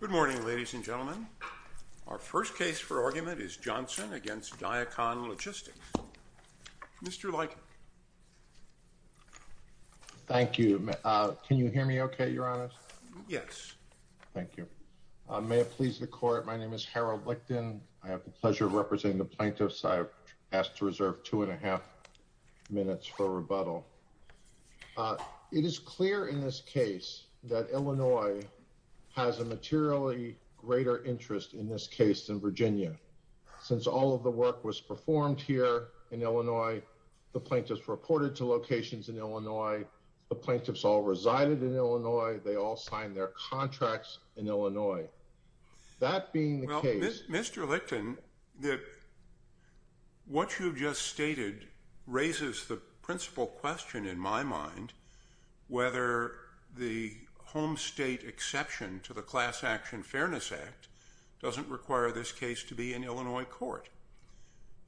Good morning, ladies and gentlemen. Our first case for argument is Johnson v. Diakon Logistics. Mr. Leikin. Thank you. Can you hear me okay, Your Honor? Yes. Thank you. May it please the Court, my name is Harold Lichten. I have the pleasure of representing the plaintiffs. I ask to reserve two and a half minutes for rebuttal. It is clear in this case that Illinois has a materially greater interest in this case than Virginia. Since all of the work was performed here in Illinois, the plaintiffs reported to locations in Illinois. The plaintiffs all resided in Illinois. They all signed their contracts in Illinois. Well, Mr. Lichten, what you've just stated raises the principal question in my mind, whether the home state exception to the Class Action Fairness Act doesn't require this case to be an Illinois court.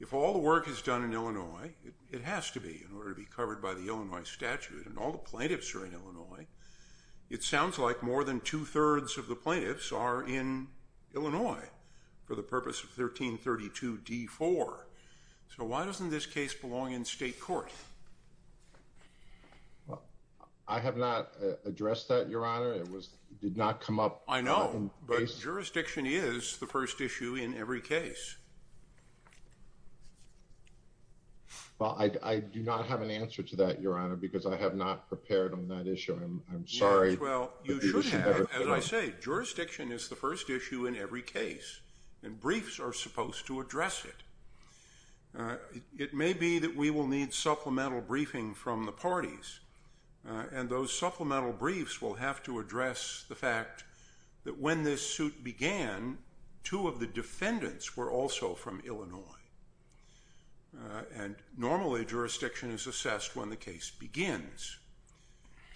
If all the work is done in Illinois, it has to be in order to be covered by the Illinois statute, and all the plaintiffs are in Illinois. It sounds like more than two-thirds of the plaintiffs are in Illinois for the purpose of 1332 D-4. So why doesn't this case belong in state court? I have not addressed that, Your Honor. It did not come up. I know, but jurisdiction is the first issue in every case. Well, I do not have an answer to that, Your Honor, because I have not prepared on that issue. I'm sorry. Well, you should have. As I say, jurisdiction is the first issue in every case, and briefs are supposed to address it. It may be that we will need supplemental briefing from the parties, and those supplemental briefs will have to address the fact that when this suit began, two of the defendants were also from Illinois, and normally jurisdiction is assessed when the case begins.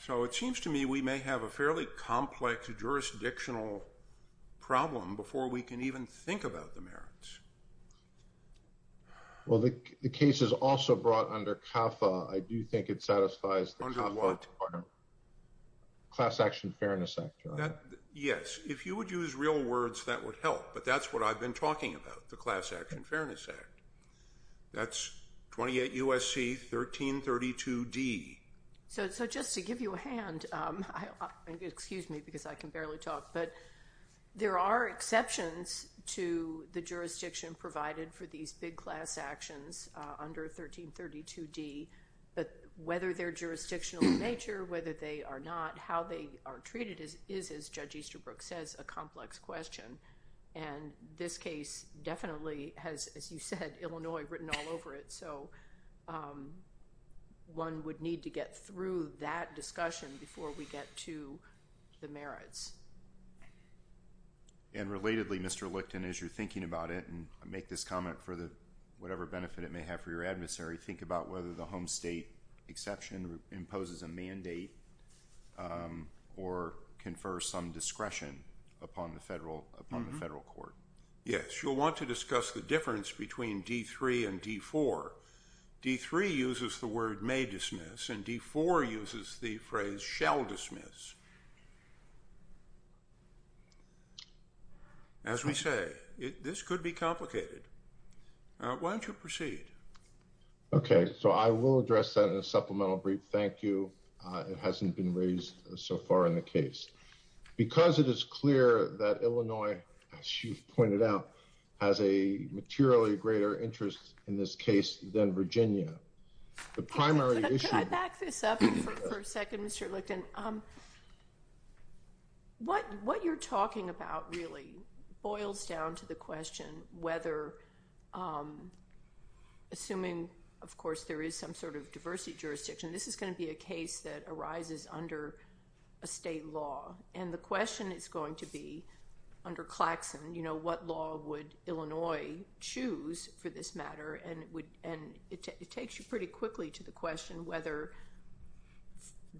So it seems to me we may have a fairly complex jurisdictional problem before we can even think about the merits. Well, the case is also brought under CAFA. I do think it satisfies the CAFA requirement. Under what? Class Action Fairness Act, Your Honor. Yes. If you would use real words, that would help, but that's what I've been talking about, the Class Action Fairness Act. That's 28 U.S.C. 1332 D. So just to give you a hand, excuse me because I can barely talk, but there are exceptions to the jurisdiction provided for these big class actions under 1332 D, but whether they're jurisdictional in nature, whether they are not, how they are treated is, as Judge Easterbrook says, a complex question. And this case definitely has, as you said, Illinois written all over it, so one would need to get through that discussion before we get to the merits. And relatedly, Mr. Licton, as you're thinking about it, and make this comment for whatever benefit it may have for your adversary, think about whether the home state exception imposes a mandate or confers some discretion upon the federal court. Yes. You'll want to discuss the difference between D.3. and D.4. D.3. uses the word may dismiss, and D.4. uses the phrase shall dismiss. As we say, this could be complicated. Why don't you proceed? Okay. So I will address that in a supplemental brief. Thank you. It hasn't been raised so far in the case because it is clear that Illinois, as you've pointed out, has a materially greater interest in this case than Virginia. Can I back this up for a second, Mr. Licton? What you're talking about really boils down to the question whether, assuming, of course, there is some sort of diversity jurisdiction, this is going to be a case that arises under a state law. And the question is going to be, under Claxon, what law would Illinois choose for this matter? And it takes you pretty quickly to the question whether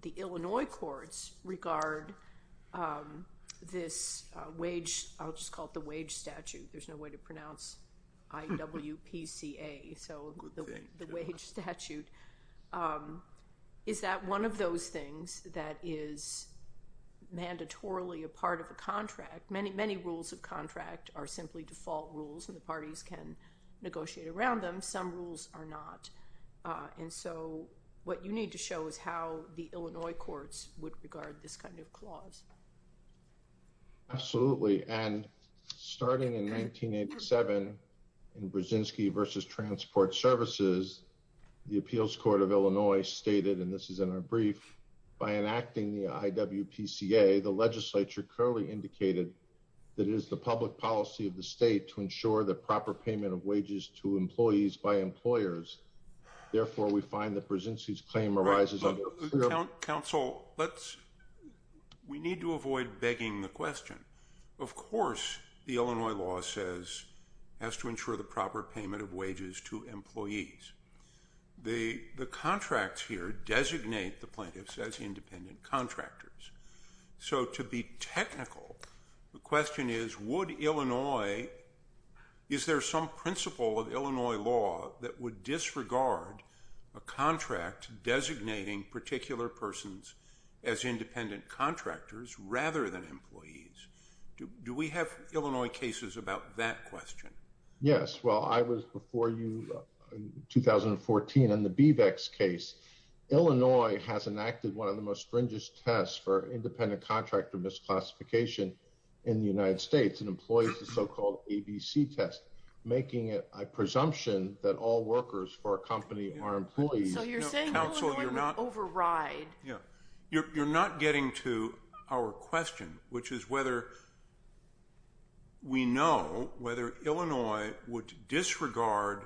the Illinois courts regard this wage – I'll just call it the wage statute. There's no way to pronounce I-W-P-C-A. So the wage statute. Is that one of those things that is mandatorily a part of a contract? Many rules of contract are simply default rules, and the parties can negotiate around them. Some rules are not. And so what you need to show is how the Illinois courts would regard this kind of clause. Absolutely. And starting in 1987, in Brzezinski v. Transport Services, the Appeals Court of Illinois stated, and this is in our brief, by enacting the I-W-P-C-A, the legislature currently indicated that it is the public policy of the state to ensure the proper payment of wages to employees by employers. Therefore, we find that Brzezinski's claim arises under – Counsel, we need to avoid begging the question. Of course, the Illinois law says it has to ensure the proper payment of wages to employees. The contracts here designate the plaintiffs as independent contractors. So to be technical, the question is, would Illinois – is there some principle of Illinois law that would disregard a contract designating particular persons as independent contractors rather than employees? Do we have Illinois cases about that question? Yes. Well, I was before you in 2014 in the BVEX case. Illinois has enacted one of the most stringent tests for independent contractor misclassification in the United States, and employs the so-called ABC test, making it a presumption that all workers for a company are employees. So you're saying Illinois would override. You're not getting to our question, which is whether we know whether Illinois would disregard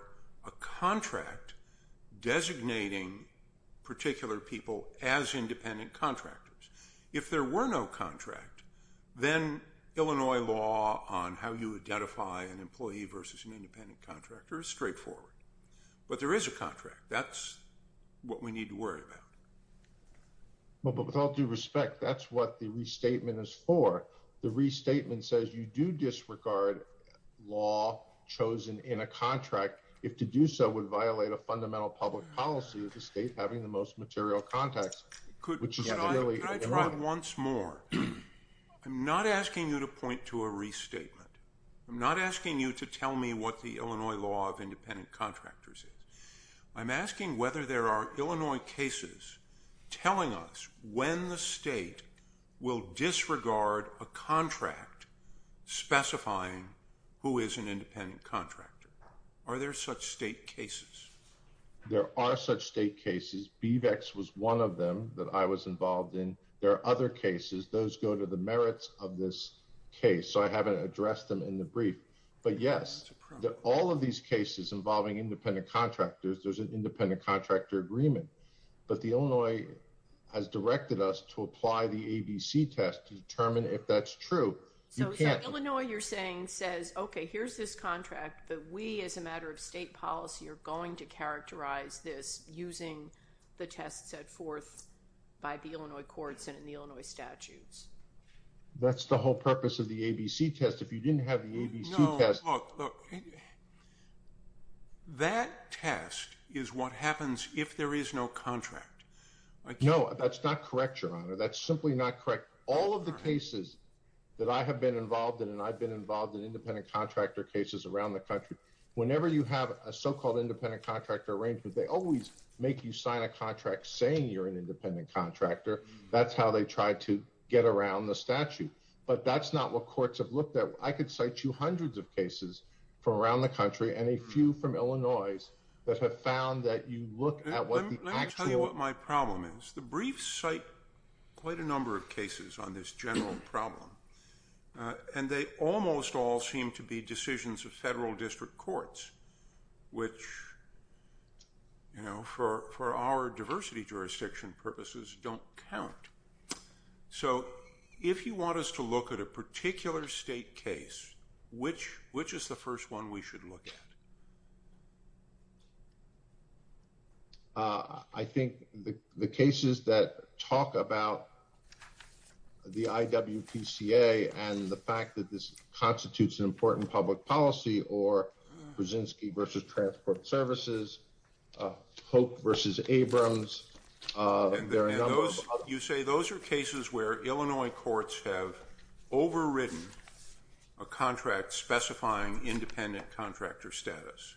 a contract designating particular people as independent contractors. If there were no contract, then Illinois law on how you identify an employee versus an independent contractor is straightforward. But there is a contract. That's what we need to worry about. Well, but with all due respect, that's what the restatement is for. The restatement says you do disregard law chosen in a contract if to do so would violate a fundamental public policy of the state having the most material context. Could I try once more? I'm not asking you to point to a restatement. I'm not asking you to tell me what the Illinois law of independent contractors is. I'm asking whether there are Illinois cases telling us when the state will disregard a contract specifying who is an independent contractor. Are there such state cases? There are such state cases. BVEX was one of them that I was involved in. There are other cases. Those go to the merits of this case. So I haven't addressed them in the brief. But yes, all of these cases involving independent contractors, there's an independent contractor agreement. But the Illinois has directed us to apply the ABC test to determine if that's true. So Illinois, you're saying, says, OK, here's this contract that we, as a matter of state policy, are going to characterize this using the tests set forth by the Illinois courts and the Illinois statutes? That's the whole purpose of the ABC test. If you didn't have the ABC test. No, look, that test is what happens if there is no contract. No, that's not correct, Your Honor. That's simply not correct. All of the cases that I have been involved in, and I've been involved in independent contractor cases around the country, whenever you have a so-called independent contractor arrangement, they always make you sign a contract saying you're an independent contractor. That's how they try to get around the statute. But that's not what courts have looked at. I could cite you hundreds of cases from around the country and a few from Illinois that have found that you look at what the actual. Let me tell you what my problem is. The briefs cite quite a number of cases on this general problem. And they almost all seem to be decisions of federal district courts, which, you know, for our diversity jurisdiction purposes don't count. So if you want us to look at a particular state case, which which is the first one we should look at? I think the cases that talk about the IWPCA and the fact that this constitutes an important public policy or Brzezinski versus Transport Services, Hope versus Abrams. You say those are cases where Illinois courts have overwritten a contract specifying independent contractor status.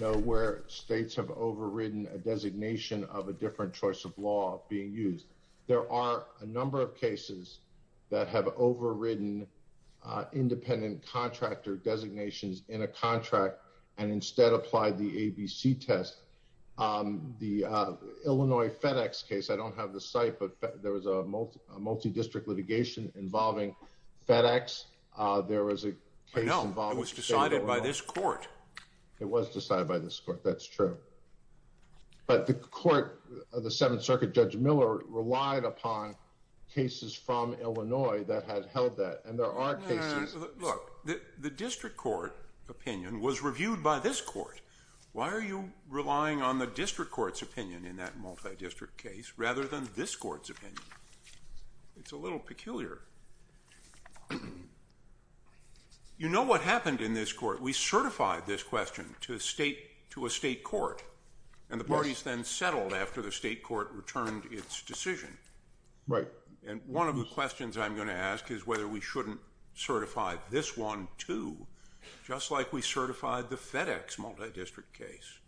Nowhere. States have overridden a designation of a different choice of law being used. There are a number of cases that have overridden independent contractor designations in a contract and instead apply the ABC test. The Illinois FedEx case. I don't have the site, but there was a multi-district litigation involving FedEx. There was a case involved. It was decided by this court. It was decided by this court. That's true. But the court of the Seventh Circuit, Judge Miller, relied upon cases from Illinois that had held that. Look, the district court opinion was reviewed by this court. Why are you relying on the district court's opinion in that multi-district case rather than this court's opinion? It's a little peculiar. You know what happened in this court. We certified this question to a state court. And the parties then settled after the state court returned its decision. Right. And one of the questions I'm going to ask is whether we shouldn't certify this one, too. Just like we certified the FedEx multi-district case.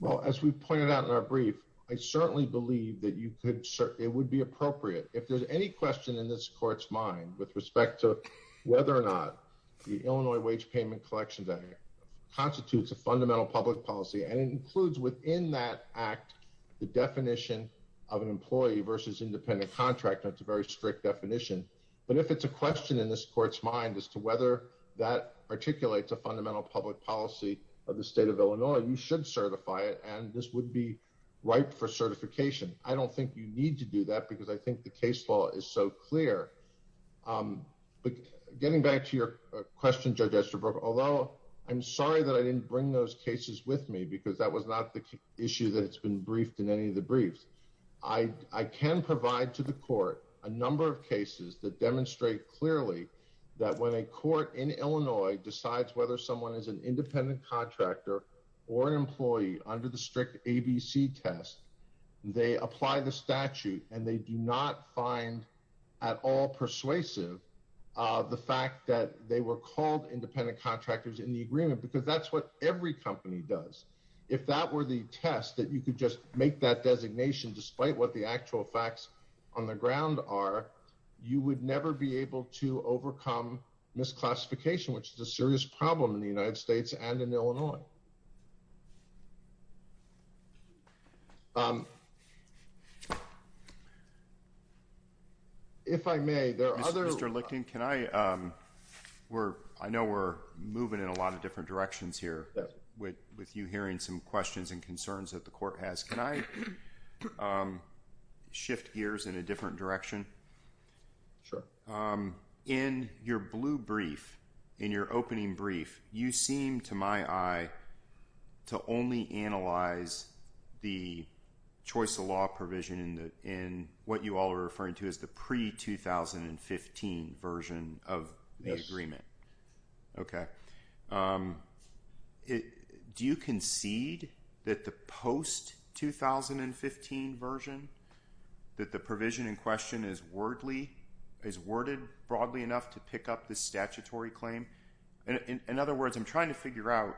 Well, as we pointed out in our brief, I certainly believe that you could. It would be appropriate if there's any question in this court's mind with respect to whether or not the Illinois wage payment collection day constitutes a fundamental public policy. And it includes within that act the definition of an employee versus independent contractor. It's a very strict definition. But if it's a question in this court's mind as to whether that articulates a fundamental public policy of the state of Illinois, you should certify it. And this would be right for certification. I don't think you need to do that because I think the case law is so clear. But getting back to your question, Judge Esterbrook, although I'm sorry that I didn't bring those cases with me because that was not the issue that's been briefed in any of the briefs. I can provide to the court a number of cases that demonstrate clearly that when a court in Illinois decides whether someone is an independent contractor or an employee under the strict ABC test, they apply the statute and they do not find at all persuasive the fact that they were called independent contractors in the agreement because that's what every company does. If that were the test that you could just make that designation, despite what the actual facts on the ground are, you would never be able to overcome misclassification, which is a serious problem in the United States and in Illinois. If I may, there are other... Mr. Lichten, I know we're moving in a lot of different directions here with you hearing some questions and concerns that the court has. Can I shift gears in a different direction? Sure. In your blue brief, in your opening brief, you seem to my eye to only analyze the choice of law provision in what you all are referring to as the pre-2015 version of the agreement. Yes. Okay. Do you concede that the post-2015 version, that the provision in question is worded broadly enough to pick up the statutory claim? In other words, I'm trying to figure out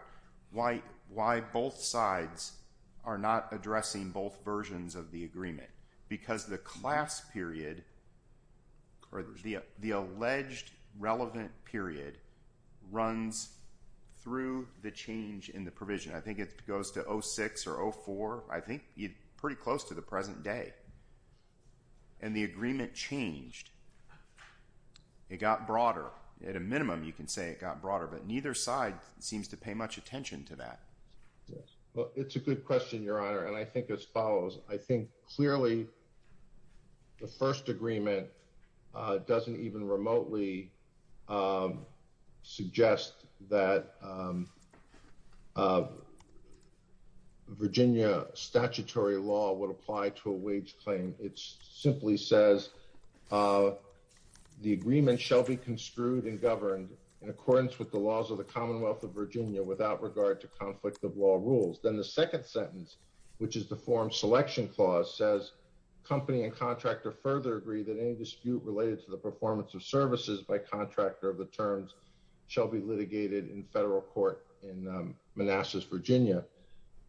why both sides are not addressing both versions of the agreement. Because the class period, or the alleged relevant period, runs through the change in the provision. I think it goes to 06 or 04, I think pretty close to the present day. And the agreement changed. It got broader. At a minimum, you can say it got broader, but neither side seems to pay much attention to that. Yes. Well, it's a good question, Your Honor, and I think it follows. I think clearly the first agreement doesn't even remotely suggest that Virginia statutory law would apply to a wage claim. It simply says the agreement shall be construed and governed in accordance with the laws of the Commonwealth of Virginia without regard to conflict of law rules. Then the second sentence, which is the forum selection clause, says company and contractor further agree that any dispute related to the performance of services by contractor of the terms shall be litigated in federal court in Manassas, Virginia.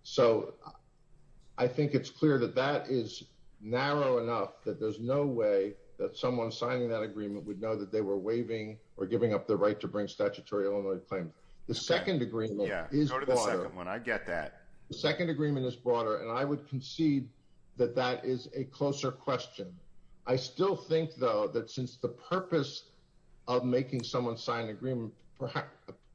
So I think it's clear that that is narrow enough that there's no way that someone signing that agreement would know that they were waiving or giving up their right to bring statutory Illinois claim. The second agreement is broader. Yeah, go to the second one. I get that. The second agreement is broader, and I would concede that that is a closer question. I still think, though, that since the purpose of making someone sign an agreement,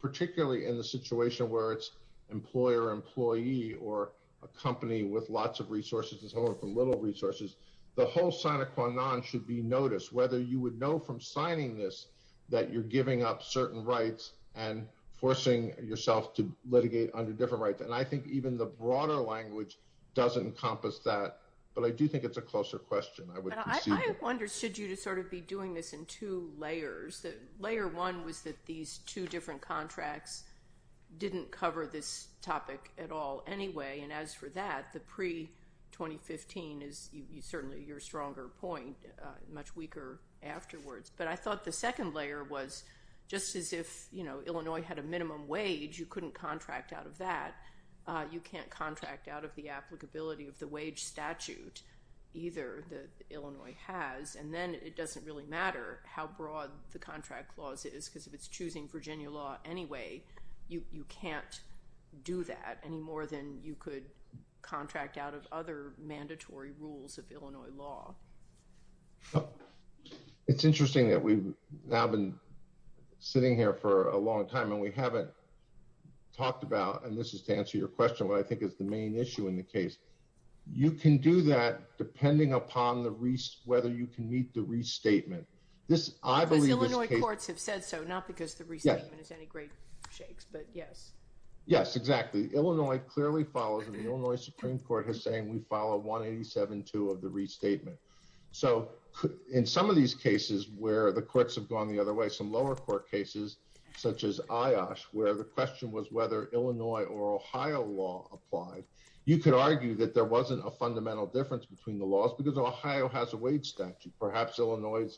particularly in the situation where it's employer-employee or a company with lots of resources and someone with little resources, the whole sign of Kwanon should be noticed, whether you would know from signing this that you're giving up certain rights and forcing yourself to litigate under different rights. And I think even the broader language does encompass that, but I do think it's a closer question, I would concede. I wonder, should you sort of be doing this in two layers? Layer one was that these two different contracts didn't cover this topic at all anyway. And as for that, the pre-2015 is certainly your stronger point, much weaker afterwards. But I thought the second layer was just as if Illinois had a minimum wage, you couldn't contract out of that, you can't contract out of the applicability of the wage statute either that Illinois has. And then it doesn't really matter how broad the contract clause is, because if it's choosing Virginia law anyway, you can't do that any more than you could contract out of other mandatory rules of Illinois law. It's interesting that we've now been sitting here for a long time and we haven't talked about, and this is to answer your question, what I think is the main issue in the case. You can do that depending upon whether you can meet the restatement. Because Illinois courts have said so, not because the restatement is any great shakes, but yes. Yes, exactly. Illinois clearly follows and the Illinois Supreme Court has saying we follow 187.2 of the restatement. So in some of these cases where the courts have gone the other way, some lower court cases, such as IOSH, where the question was whether Illinois or Ohio law applied, you could argue that there wasn't a fundamental difference between the laws because Ohio has a wage statute. Perhaps Illinois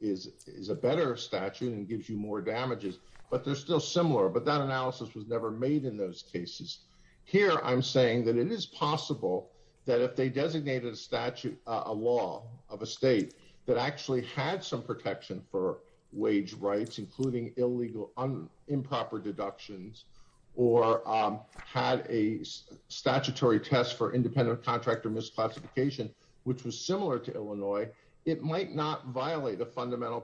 is a better statute and gives you more damages, but they're still similar, but that analysis was never made in those cases. Here I'm saying that it is possible that if they designated a statute, a law of a state that actually had some protection for wage rights, including illegal improper deductions, or had a statutory test for independent contractor misclassification, which was similar to Illinois, it might not violate a fundamental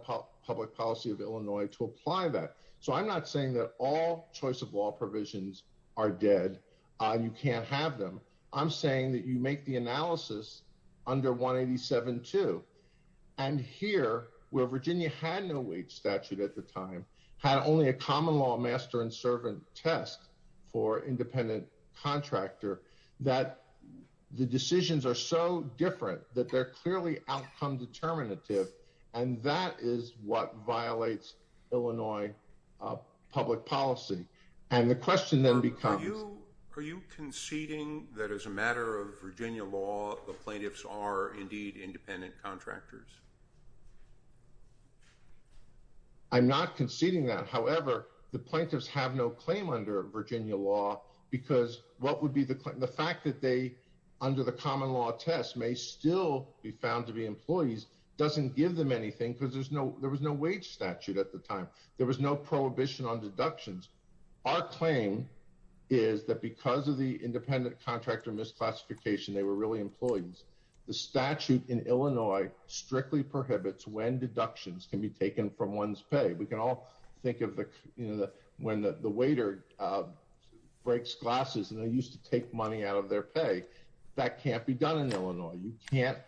public policy of Illinois to apply that. So I'm not saying that all choice of law provisions are dead. You can't have them. I'm saying that you make the analysis under 187.2. And here, where Virginia had no wage statute at the time, had only a common law master and servant test for independent contractor, that the decisions are so different that they're clearly outcome determinative, and that is what violates Illinois public policy. Are you conceding that as a matter of Virginia law, the plaintiffs are indeed independent contractors? I'm not conceding that. However, the plaintiffs have no claim under Virginia law, because what would be the fact that they under the common law test may still be found to be employees doesn't give them anything because there's no there was no wage statute at the time. There was no prohibition on deductions. Our claim is that because of the independent contractor misclassification, they were really employees. The statute in Illinois strictly prohibits when deductions can be taken from one's pay. We can all think of when the waiter breaks glasses and they used to take money out of their pay. That can't be done in Illinois. You can't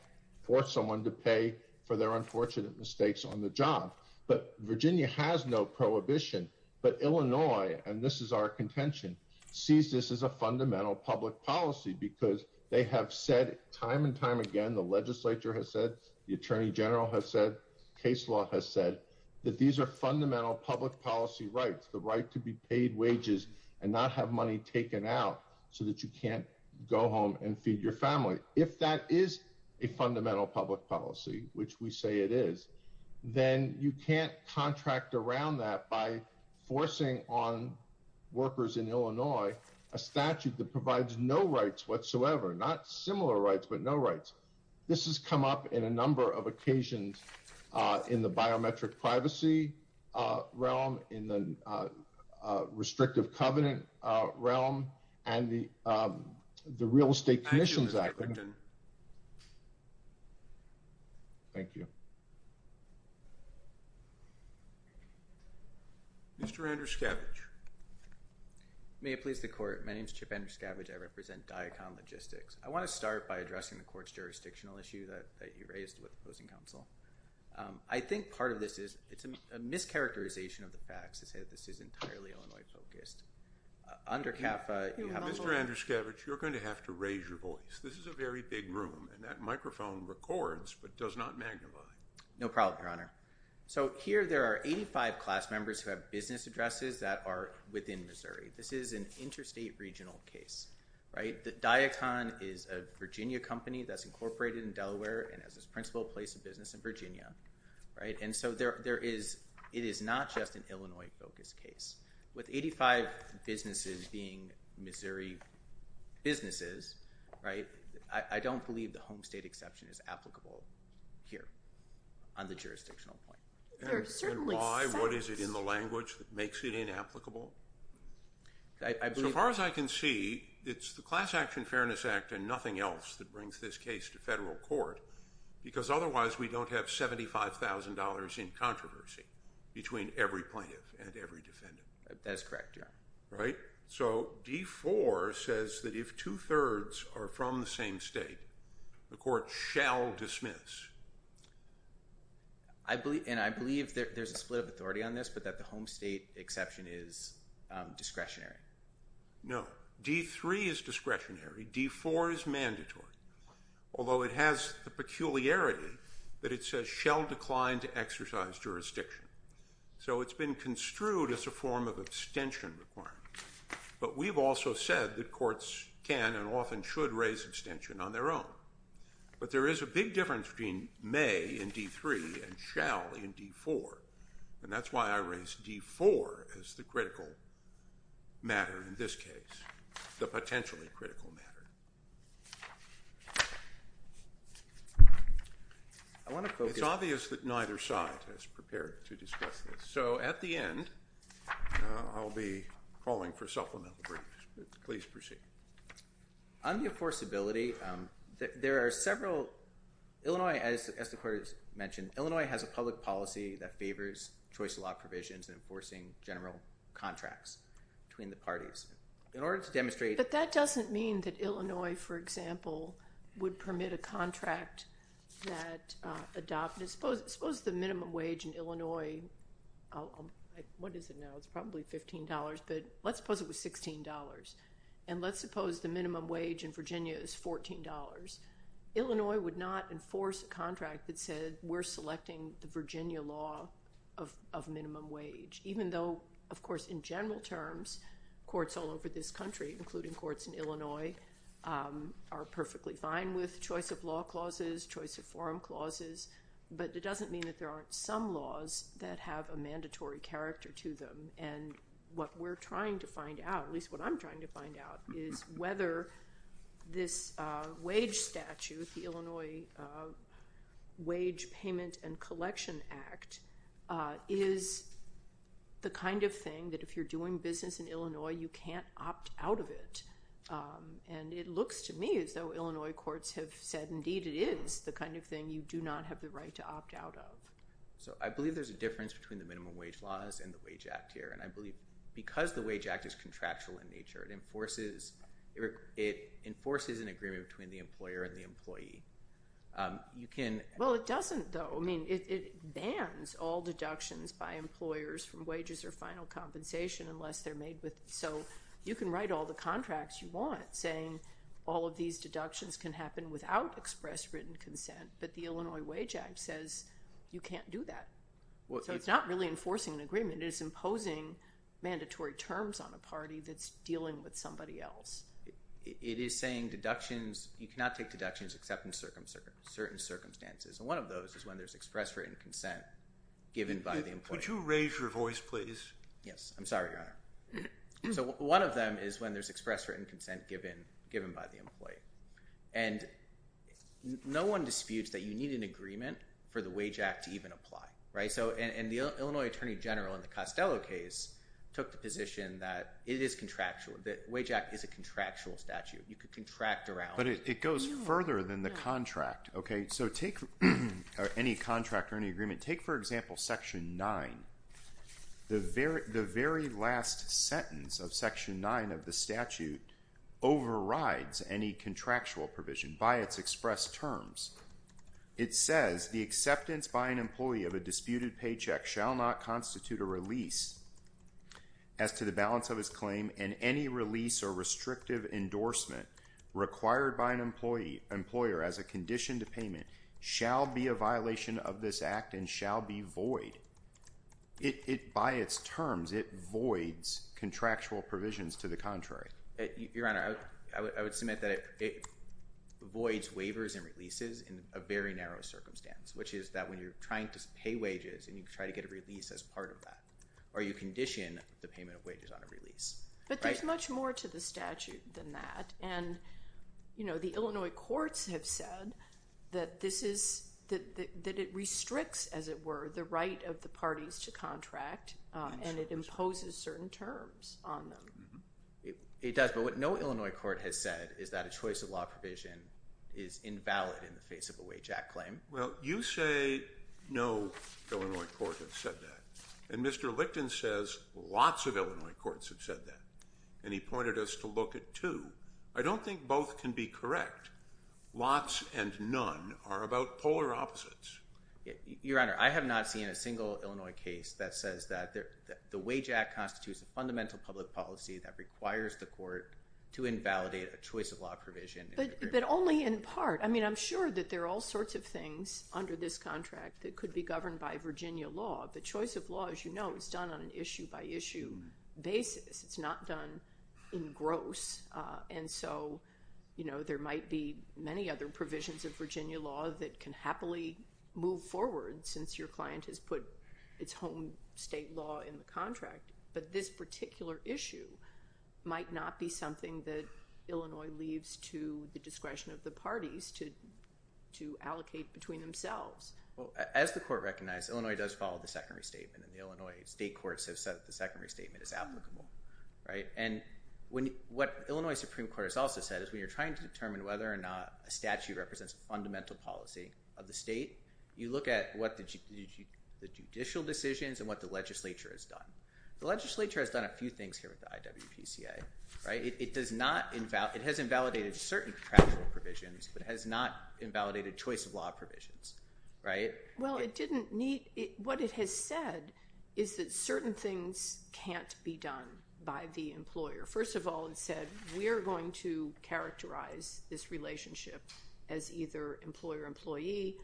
force someone to pay for their unfortunate mistakes on the job. But Virginia has no prohibition. But Illinois, and this is our contention, sees this as a fundamental public policy because they have said time and time again, the legislature has said the attorney general has said case law has said that these are fundamental public policy rights, the right to be paid wages and not have money taken out so that you can't go home and feed your family. If that is a fundamental public policy, which we say it is, then you can't contract around that by forcing on workers in Illinois, a statute that provides no rights whatsoever, not similar rights, but no rights. This has come up in a number of occasions in the biometric privacy realm, in the restrictive covenant realm, and the Real Estate Commission's Act. Thank you. Mr. Andrew Scavage. May it please the Court. My name is Chip Andrew Scavage. I represent Diacom Logistics. I want to start by addressing the Court's jurisdictional issue that you raised with opposing counsel. I think part of this is it's a mischaracterization of the facts to say that this is entirely Illinois-focused. Under CAFA— Mr. Andrew Scavage, you're going to have to raise your voice. This is a very big room, and that microphone records but does not magnify. No problem, Your Honor. Here there are 85 class members who have business addresses that are within Missouri. This is an interstate regional case. Diacom is a Virginia company that's incorporated in Delaware and has its principal place of business in Virginia. It is not just an Illinois-focused case. With 85 businesses being Missouri businesses, I don't believe the home state exception is applicable here on the jurisdictional point. Why? What is it in the language that makes it inapplicable? So far as I can see, it's the Class Action Fairness Act and nothing else that brings this case to federal court, because otherwise we don't have $75,000 in controversy between every plaintiff and every defendant. That is correct, Your Honor. Right? So D-4 says that if two-thirds are from the same state, the Court shall dismiss. And I believe there's a split of authority on this, but that the home state exception is discretionary. No. D-3 is discretionary. D-4 is mandatory, although it has the peculiarity that it says shall decline to exercise jurisdiction. So it's been construed as a form of abstention requirement, but we've also said that courts can and often should raise abstention on their own. But there is a big difference between may in D-3 and shall in D-4, and that's why I raised D-4 as the critical matter in this case, the potentially critical matter. It's obvious that neither side is prepared to discuss this. So at the end, I'll be calling for supplemental briefs. Please proceed. On the enforceability, there are several—Illinois, as the Court has mentioned, Illinois has a public policy that favors choice of law provisions and enforcing general contracts between the parties. In order to demonstrate— But that doesn't mean that Illinois, for example, would permit a contract that adopted—suppose the minimum wage in Illinois—what is it now? It's probably $15, but let's suppose it was $16, and let's suppose the minimum wage in Virginia is $14. Illinois would not enforce a contract that said we're selecting the Virginia law of minimum wage, even though, of course, in general terms, courts all over this country, including courts in Illinois, are perfectly fine with choice of law clauses, choice of forum clauses. But it doesn't mean that there aren't some laws that have a mandatory character to them. And what we're trying to find out, at least what I'm trying to find out, is whether this wage statute, the Illinois Wage Payment and Collection Act, is the kind of thing that if you're doing business in Illinois, you can't opt out of it. And it looks to me as though Illinois courts have said, indeed, it is the kind of thing you do not have the right to opt out of. So I believe there's a difference between the minimum wage laws and the Wage Act here. And I believe because the Wage Act is contractual in nature, it enforces an agreement between the employer and the employee. Well, it doesn't, though. I mean, it bans all deductions by employers from wages or final compensation unless they're made with— So you can write all the contracts you want, saying all of these deductions can happen without express written consent. But the Illinois Wage Act says you can't do that. So it's not really enforcing an agreement. It is imposing mandatory terms on a party that's dealing with somebody else. It is saying deductions—you cannot take deductions except in certain circumstances. And one of those is when there's express written consent given by the employer. Could you raise your voice, please? Yes. I'm sorry, Your Honor. So one of them is when there's express written consent given by the employee. And no one disputes that you need an agreement for the Wage Act to even apply. And the Illinois Attorney General in the Costello case took the position that it is contractual, that the Wage Act is a contractual statute. You could contract around— But it goes further than the contract. Okay, so take any contract or any agreement. Take, for example, Section 9. The very last sentence of Section 9 of the statute overrides any contractual provision by its expressed terms. It says, the acceptance by an employee of a disputed paycheck shall not constitute a release as to the balance of his claim and any release or restrictive endorsement required by an employer as a condition to payment shall be a violation of this act and shall be void. By its terms, it voids contractual provisions to the contrary. Your Honor, I would submit that it voids waivers and releases in a very narrow circumstance, which is that when you're trying to pay wages and you try to get a release as part of that, or you condition the payment of wages on a release. But there's much more to the statute than that. And, you know, the Illinois courts have said that this is—that it restricts, as it were, the right of the parties to contract, and it imposes certain terms on them. It does, but what no Illinois court has said is that a choice of law provision is invalid in the face of a Wage Act claim. Well, you say no Illinois court has said that. And Mr. Licton says lots of Illinois courts have said that. And he pointed us to look at two. I don't think both can be correct. Lots and none are about polar opposites. Your Honor, I have not seen a single Illinois case that says that the Wage Act constitutes a fundamental public policy that requires the court to invalidate a choice of law provision. But only in part. I mean, I'm sure that there are all sorts of things under this contract that could be governed by Virginia law. But choice of law, as you know, is done on an issue-by-issue basis. It's not done in gross. And so, you know, there might be many other provisions of Virginia law that can happily move forward since your client has put its home state law in the contract. But this particular issue might not be something that Illinois leaves to the discretion of the parties to allocate between themselves. Well, as the court recognized, Illinois does follow the Second Restatement. And the Illinois state courts have said that the Second Restatement is applicable. And what Illinois Supreme Court has also said is when you're trying to determine whether or not a statute represents a fundamental policy of the state, you look at what the judicial decisions and what the legislature has done. The legislature has done a few things here with the IWPCA. It has invalidated certain contractual provisions, but has not invalidated choice of law provisions, right? Well, what it has said is that certain things can't be done by the employer. First of all, it said we are going to characterize this relationship as either employer-employee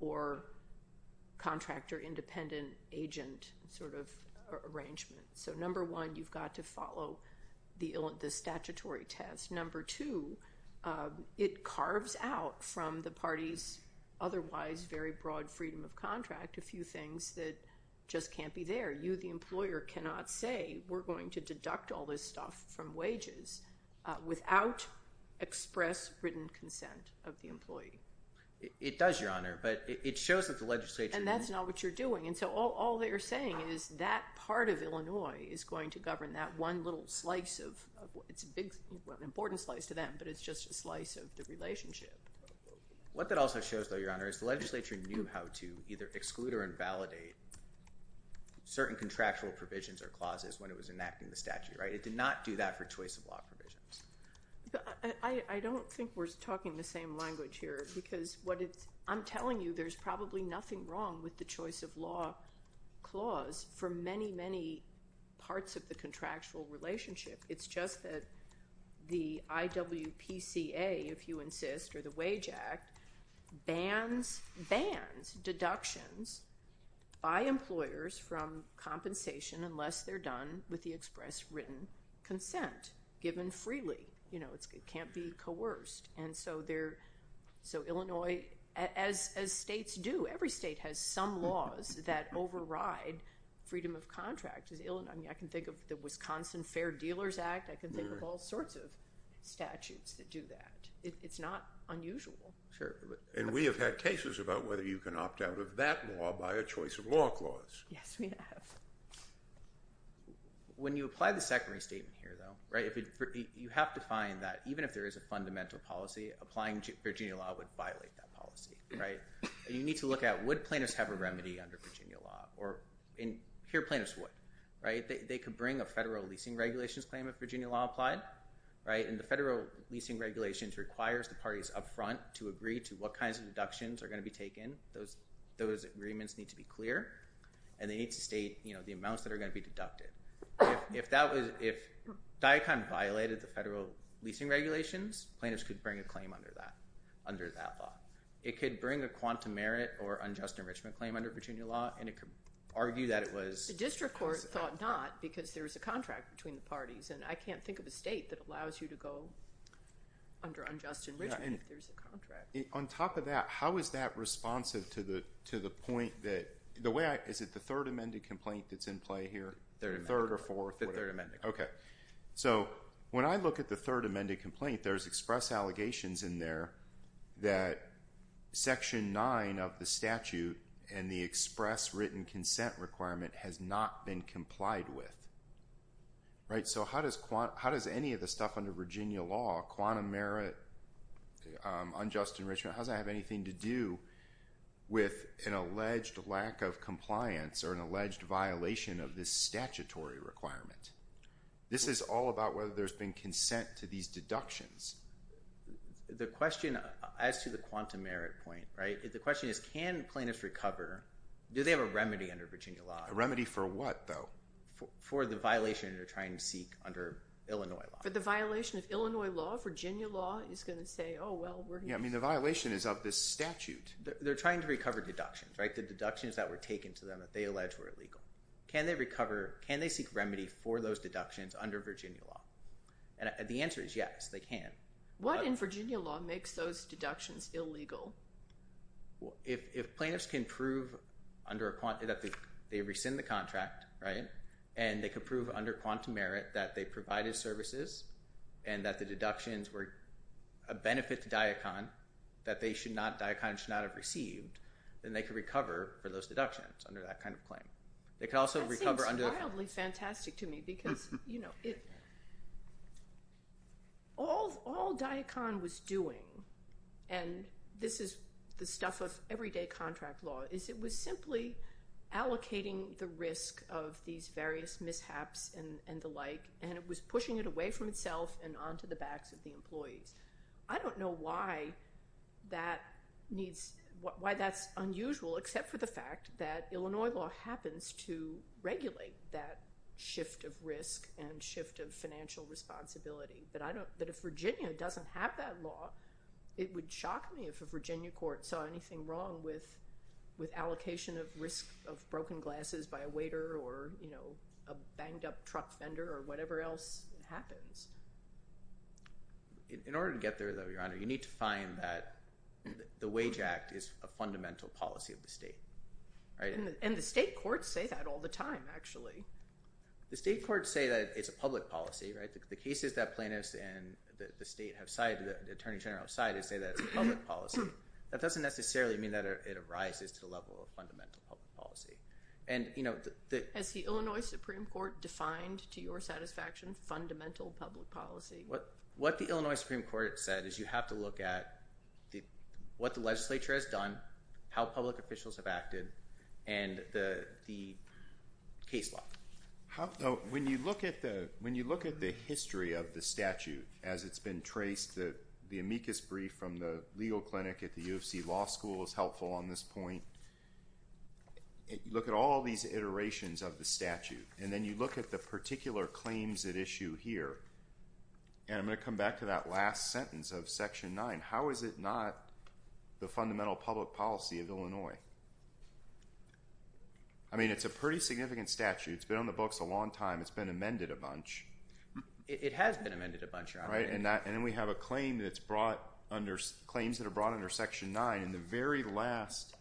or contractor-independent agent sort of arrangement. So number one, you've got to follow the statutory test. Number two, it carves out from the party's otherwise very broad freedom of contract a few things that just can't be there. You, the employer, cannot say we're going to deduct all this stuff from wages without express written consent of the employee. It does, Your Honor, but it shows that the legislature— And so all they're saying is that part of Illinois is going to govern that one little slice of—it's a big, important slice to them, but it's just a slice of the relationship. What that also shows, though, Your Honor, is the legislature knew how to either exclude or invalidate certain contractual provisions or clauses when it was enacting the statute, right? It did not do that for choice of law provisions. I don't think we're talking the same language here because what it's—I'm telling you there's probably nothing wrong with the choice of law clause for many, many parts of the contractual relationship. It's just that the IWPCA, if you insist, or the Wage Act, bans deductions by employers from compensation unless they're done with the express written consent given freely. It can't be coerced, and so Illinois—as states do, every state has some laws that override freedom of contract. I mean, I can think of the Wisconsin Fair Dealers Act. I can think of all sorts of statutes that do that. It's not unusual. And we have had cases about whether you can opt out of that law by a choice of law clause. Yes, we have. When you apply the secondary statement here, though, you have to find that even if there is a fundamental policy, applying Virginia law would violate that policy, right? And you need to look at would plaintiffs have a remedy under Virginia law, or—and here plaintiffs would, right? They could bring a federal leasing regulations claim if Virginia law applied, right? And the federal leasing regulations requires the parties up front to agree to what kinds of deductions are going to be taken. Those agreements need to be clear, and they need to state the amounts that are going to be deducted. If that was—if DICON violated the federal leasing regulations, plaintiffs could bring a claim under that law. It could bring a quantum merit or unjust enrichment claim under Virginia law, and it could argue that it was— The district court thought not because there was a contract between the parties, and I can't think of a state that allows you to go under unjust enrichment if there's a contract. On top of that, how is that responsive to the point that—the way I—is it the third amended complaint that's in play here? Third amended. Third or fourth? The third amended. Okay. So when I look at the third amended complaint, there's express allegations in there that Section 9 of the statute and the express written consent requirement has not been complied with, right? So how does any of the stuff under Virginia law, quantum merit, unjust enrichment, how does that have anything to do with an alleged lack of compliance or an alleged violation of this statutory requirement? This is all about whether there's been consent to these deductions. The question as to the quantum merit point, right? The question is can plaintiffs recover—do they have a remedy under Virginia law? A remedy for what, though? For the violation they're trying to seek under Illinois law. For the violation of Illinois law, Virginia law is going to say, oh, well, we're going to— Yeah, I mean the violation is of this statute. They're trying to recover deductions, right? The deductions that were taken to them that they allege were illegal. Can they recover—can they seek remedy for those deductions under Virginia law? And the answer is yes, they can. What in Virginia law makes those deductions illegal? If plaintiffs can prove under a—they rescind the contract, right, and they can prove under quantum merit that they provided services and that the deductions were a benefit to DIACON that they should not—DIACON should not have received, then they can recover for those deductions under that kind of claim. They can also recover under— It's wildly fantastic to me because, you know, all DIACON was doing—and this is the stuff of everyday contract law— is it was simply allocating the risk of these various mishaps and the like, and it was pushing it away from itself and onto the backs of the employees. I don't know why that needs—why that's unusual except for the fact that Illinois law happens to regulate that shift of risk and shift of financial responsibility, but I don't—that if Virginia doesn't have that law, it would shock me if a Virginia court saw anything wrong with allocation of risk of broken glasses by a waiter or, you know, a banged-up truck vendor or whatever else happens. In order to get there, though, Your Honor, you need to find that the Wage Act is a fundamental policy of the state, right? And the state courts say that all the time, actually. The state courts say that it's a public policy, right? The cases that plaintiffs in the state have cited, the Attorney General has cited, say that it's a public policy. That doesn't necessarily mean that it arises to the level of fundamental public policy. Has the Illinois Supreme Court defined to your satisfaction fundamental public policy? What the Illinois Supreme Court said is you have to look at what the legislature has done, how public officials have acted, and the case law. When you look at the history of the statute as it's been traced, the amicus brief from the legal clinic at the UFC Law School is helpful on this point. Look at all these iterations of the statute. And then you look at the particular claims at issue here. And I'm going to come back to that last sentence of Section 9. How is it not the fundamental public policy of Illinois? I mean, it's a pretty significant statute. It's been on the books a long time. It's been amended a bunch. It has been amended a bunch, Your Honor. And then we have a claim that's brought under – claims that are brought under Section 9. And the very last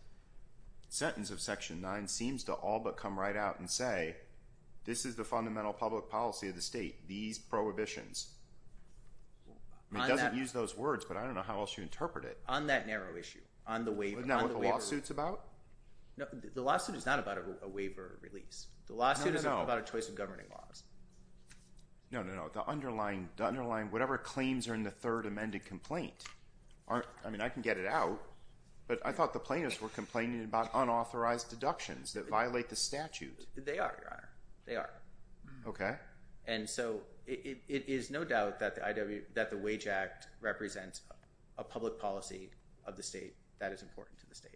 sentence of Section 9 seems to all but come right out and say, this is the fundamental public policy of the state, these prohibitions. I mean, it doesn't use those words, but I don't know how else you interpret it. On that narrow issue, on the waiver. Isn't that what the lawsuit's about? No, the lawsuit is not about a waiver release. The lawsuit is about a choice of governing laws. No, no, no. The underlying – whatever claims are in the third amended complaint aren't – I mean, I can get it out, but I thought the plaintiffs were complaining about unauthorized deductions that violate the statute. They are, Your Honor. They are. Okay. And so it is no doubt that the wage act represents a public policy of the state that is important to the state.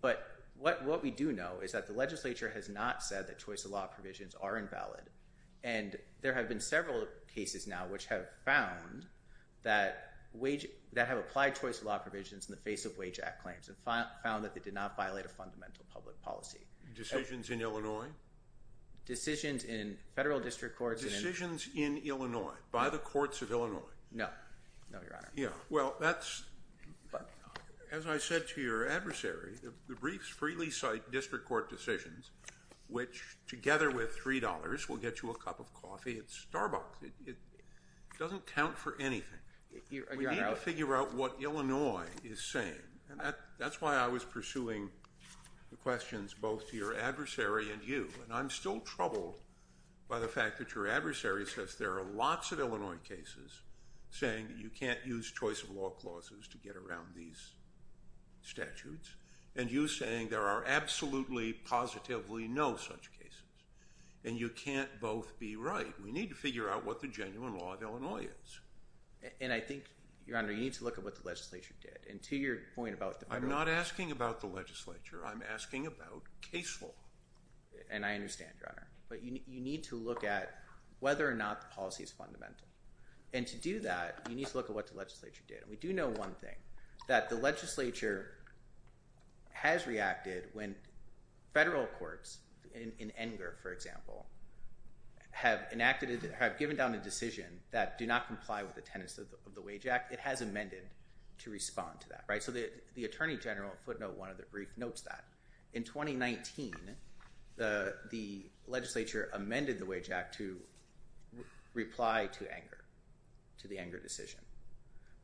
But what we do know is that the legislature has not said that choice of law provisions are invalid, and there have been several cases now which have found that wage – that have applied choice of law provisions in the face of wage act claims and found that they did not violate a fundamental public policy. Decisions in Illinois? Decisions in federal district courts. Decisions in Illinois by the courts of Illinois? No. No, Your Honor. Yeah. Well, that's – as I said to your adversary, the briefs freely cite district court decisions, which together with $3 will get you a cup of coffee at Starbucks. It doesn't count for anything. We need to figure out what Illinois is saying, and that's why I was pursuing the questions both to your adversary and you. And I'm still troubled by the fact that your adversary says there are lots of Illinois cases saying that you can't use choice of law clauses to get around these statutes, and you saying there are absolutely positively no such cases, and you can't both be right. We need to figure out what the genuine law of Illinois is. And I think, Your Honor, you need to look at what the legislature did. And to your point about – I'm not asking about the legislature. I'm asking about case law. And I understand, Your Honor. But you need to look at whether or not the policy is fundamental. And to do that, you need to look at what the legislature did. And we do know one thing, that the legislature has reacted when federal courts, in Enger, for example, have enacted – have given down a decision that do not comply with the tenets of the Wage Act. It has amended to respond to that. So the Attorney General footnote notes that. In 2019, the legislature amended the Wage Act to reply to Enger, to the Enger decision.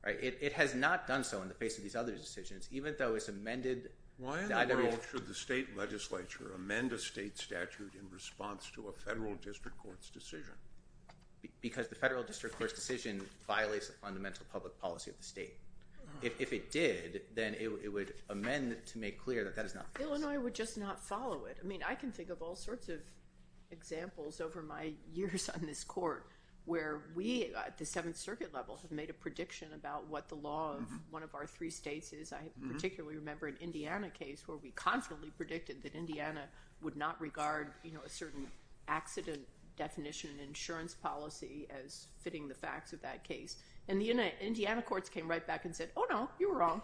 It has not done so in the face of these other decisions, even though it's amended. Why in the world should the state legislature amend a state statute in response to a federal district court's decision? Because the federal district court's decision violates the fundamental public policy of the state. If it did, then it would amend to make clear that that is not the case. Illinois would just not follow it. I mean, I can think of all sorts of examples over my years on this court where we, at the Seventh Circuit level, have made a prediction about what the law of one of our three states is. I particularly remember an Indiana case where we confidently predicted that Indiana would not regard a certain accident definition and insurance policy as fitting the facts of that case. And the Indiana courts came right back and said, oh, no, you were wrong.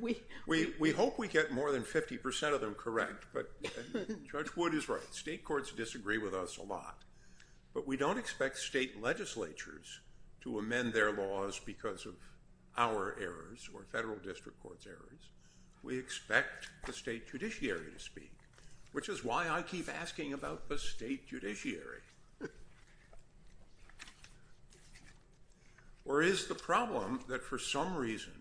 We hope we get more than 50% of them correct, but Judge Wood is right. State courts disagree with us a lot. But we don't expect state legislatures to amend their laws because of our errors or federal district court's errors. We expect the state judiciary to speak, which is why I keep asking about the state judiciary. Or is the problem that, for some reason,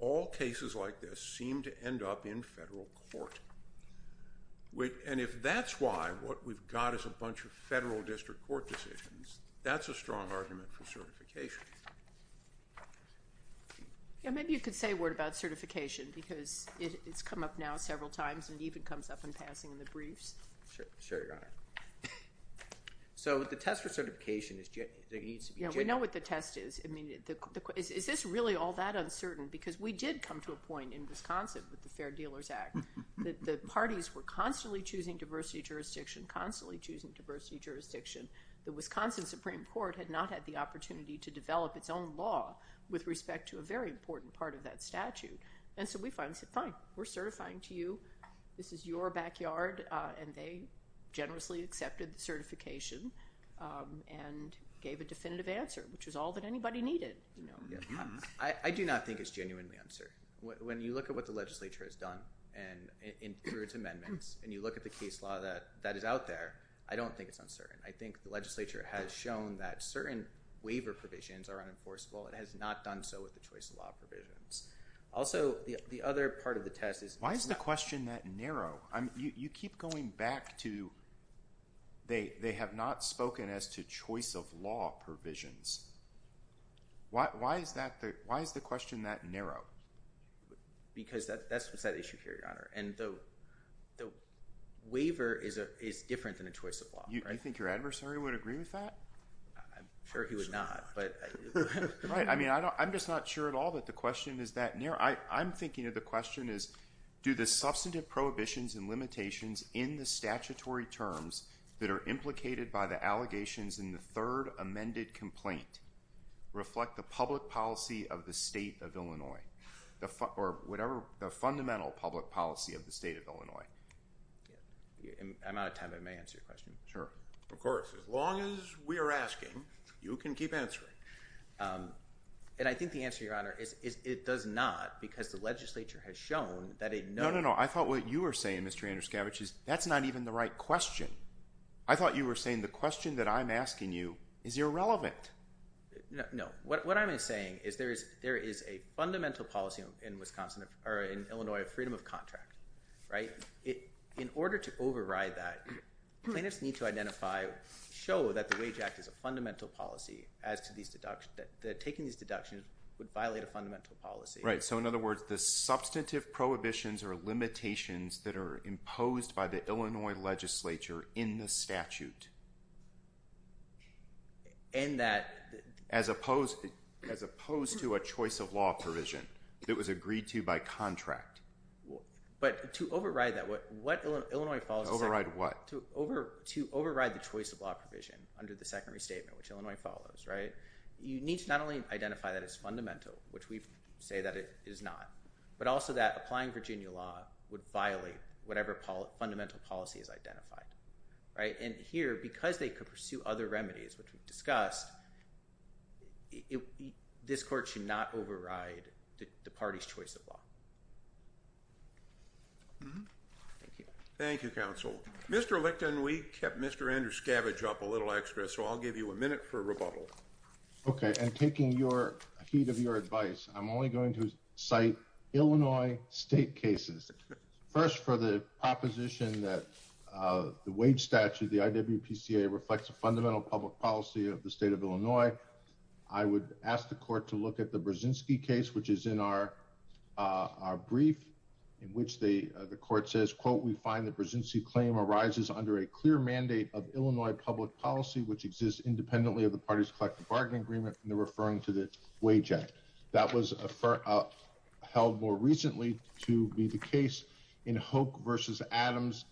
all cases like this seem to end up in federal court? And if that's why what we've got is a bunch of federal district court decisions, that's a strong argument for certification. Yeah, maybe you could say a word about certification because it's come up now several times and even comes up in passing in the briefs. Sure, Your Honor. So the test for certification is that it needs to be genuine. Yeah, we know what the test is. I mean, is this really all that uncertain? Because we did come to a point in Wisconsin with the Fair Dealers Act that the parties were constantly choosing diversity jurisdiction, constantly choosing diversity jurisdiction. The Wisconsin Supreme Court had not had the opportunity to develop its own law with respect to a very important part of that statute. And so we finally said, fine, we're certifying to you. This is your backyard. And they generously accepted the certification and gave a definitive answer, which was all that anybody needed. I do not think it's genuinely uncertain. When you look at what the legislature has done through its amendments and you look at the case law that is out there, I don't think it's uncertain. I think the legislature has shown that certain waiver provisions are unenforceable. It has not done so with the choice of law provisions. Also, the other part of the test is why is the question that narrow? You keep going back to they have not spoken as to choice of law provisions. Why is the question that narrow? Because that's what's at issue here, Your Honor. And the waiver is different than a choice of law. You think your adversary would agree with that? I'm sure he would not. Right. I mean, I'm just not sure at all that the question is that narrow. I'm thinking of the question as do the substantive prohibitions and limitations in the statutory terms that are implicated by the allegations in the third amended complaint reflect the public policy of the state of Illinois or whatever the fundamental public policy of the state of Illinois? I'm out of time. I may answer your question. Sure. Of course. As long as we are asking, you can keep answering. And I think the answer, Your Honor, is it does not because the legislature has shown that it knows. No, no, no. I thought what you were saying, Mr. Andruskavich, is that's not even the right question. I thought you were saying the question that I'm asking you is irrelevant. No. What I'm saying is there is a fundamental policy in Illinois of freedom of contract, right? In order to override that, plaintiffs need to identify, show that the Wage Act is a fundamental policy as to taking these deductions would violate a fundamental policy. Right. So, in other words, the substantive prohibitions or limitations that are imposed by the Illinois legislature in the statute as opposed to a choice of law provision that was agreed to by contract. But to override that, what Illinois follows is that— Override what? To override the choice of law provision under the second restatement, which Illinois follows, right, you need to not only identify that as fundamental, which we say that it is not, but also that applying Virginia law would violate whatever fundamental policy is identified, right? And here, because they could pursue other remedies, which we've discussed, this court should not override the party's choice of law. Thank you. Thank you, counsel. Mr. Licton, we kept Mr. Andruskavich up a little extra, so I'll give you a minute for rebuttal. Okay. And taking your—heat of your advice, I'm only going to cite Illinois state cases. First, for the proposition that the wage statute, the IWPCA, reflects a fundamental public policy of the state of Illinois, I would ask the court to look at the Brzezinski case, which is in our brief, in which the court says, quote, of Illinois public policy, which exists independently of the party's collective bargaining agreement, and they're referring to the wage act. That was held more recently to be the case in Hoke v. Adams,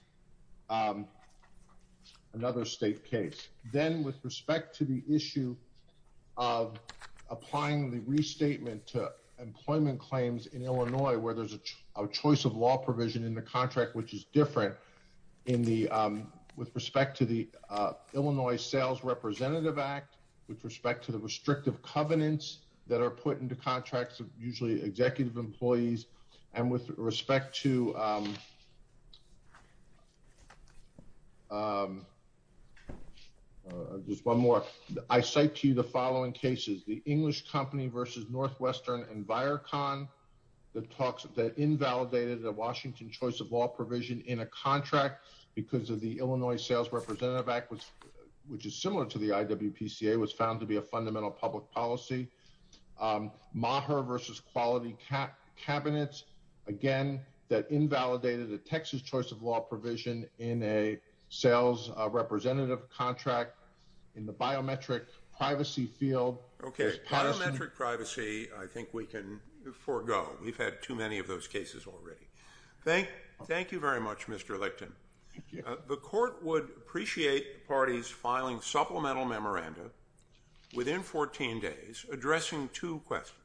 another state case. Then with respect to the issue of applying the restatement to employment claims in Illinois, where there's a choice of law provision in the contract, which is different in the—with respect to the Illinois Sales Representative Act, with respect to the restrictive covenants that are put into contracts of usually executive employees, and with respect to—just one more. I cite to you the following cases, the English Company v. Northwestern and Virecon, that invalidated a Washington choice of law provision in a contract because of the Illinois Sales Representative Act, which is similar to the IWPCA, was found to be a fundamental public policy. Maher v. Quality Cabinets, again, that invalidated a Texas choice of law provision in a sales representative contract in the biometric privacy field. Okay, biometric privacy, I think we can forego. We've had too many of those cases already. Thank you very much, Mr. Lichten. The court would appreciate the parties filing supplemental memoranda within 14 days, addressing two questions.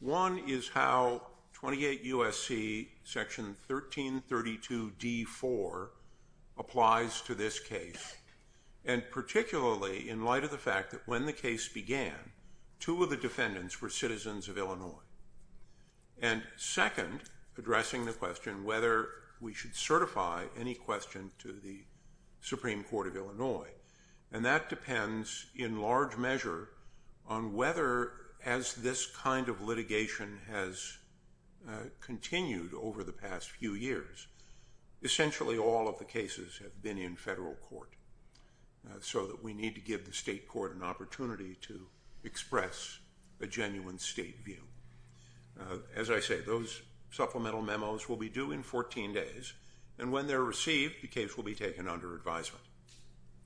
One is how 28 U.S.C. section 1332d.4 applies to this case, and particularly in light of the fact that when the case began, two of the defendants were citizens of Illinois. And second, addressing the question whether we should certify any question to the Supreme Court of Illinois, and that depends in large measure on whether, as this kind of litigation has continued over the past few years, essentially all of the cases have been in federal court, so that we need to give the state court an opportunity to express a genuine state view. As I say, those supplemental memos will be due in 14 days, and when they're received, the case will be taken under advisement.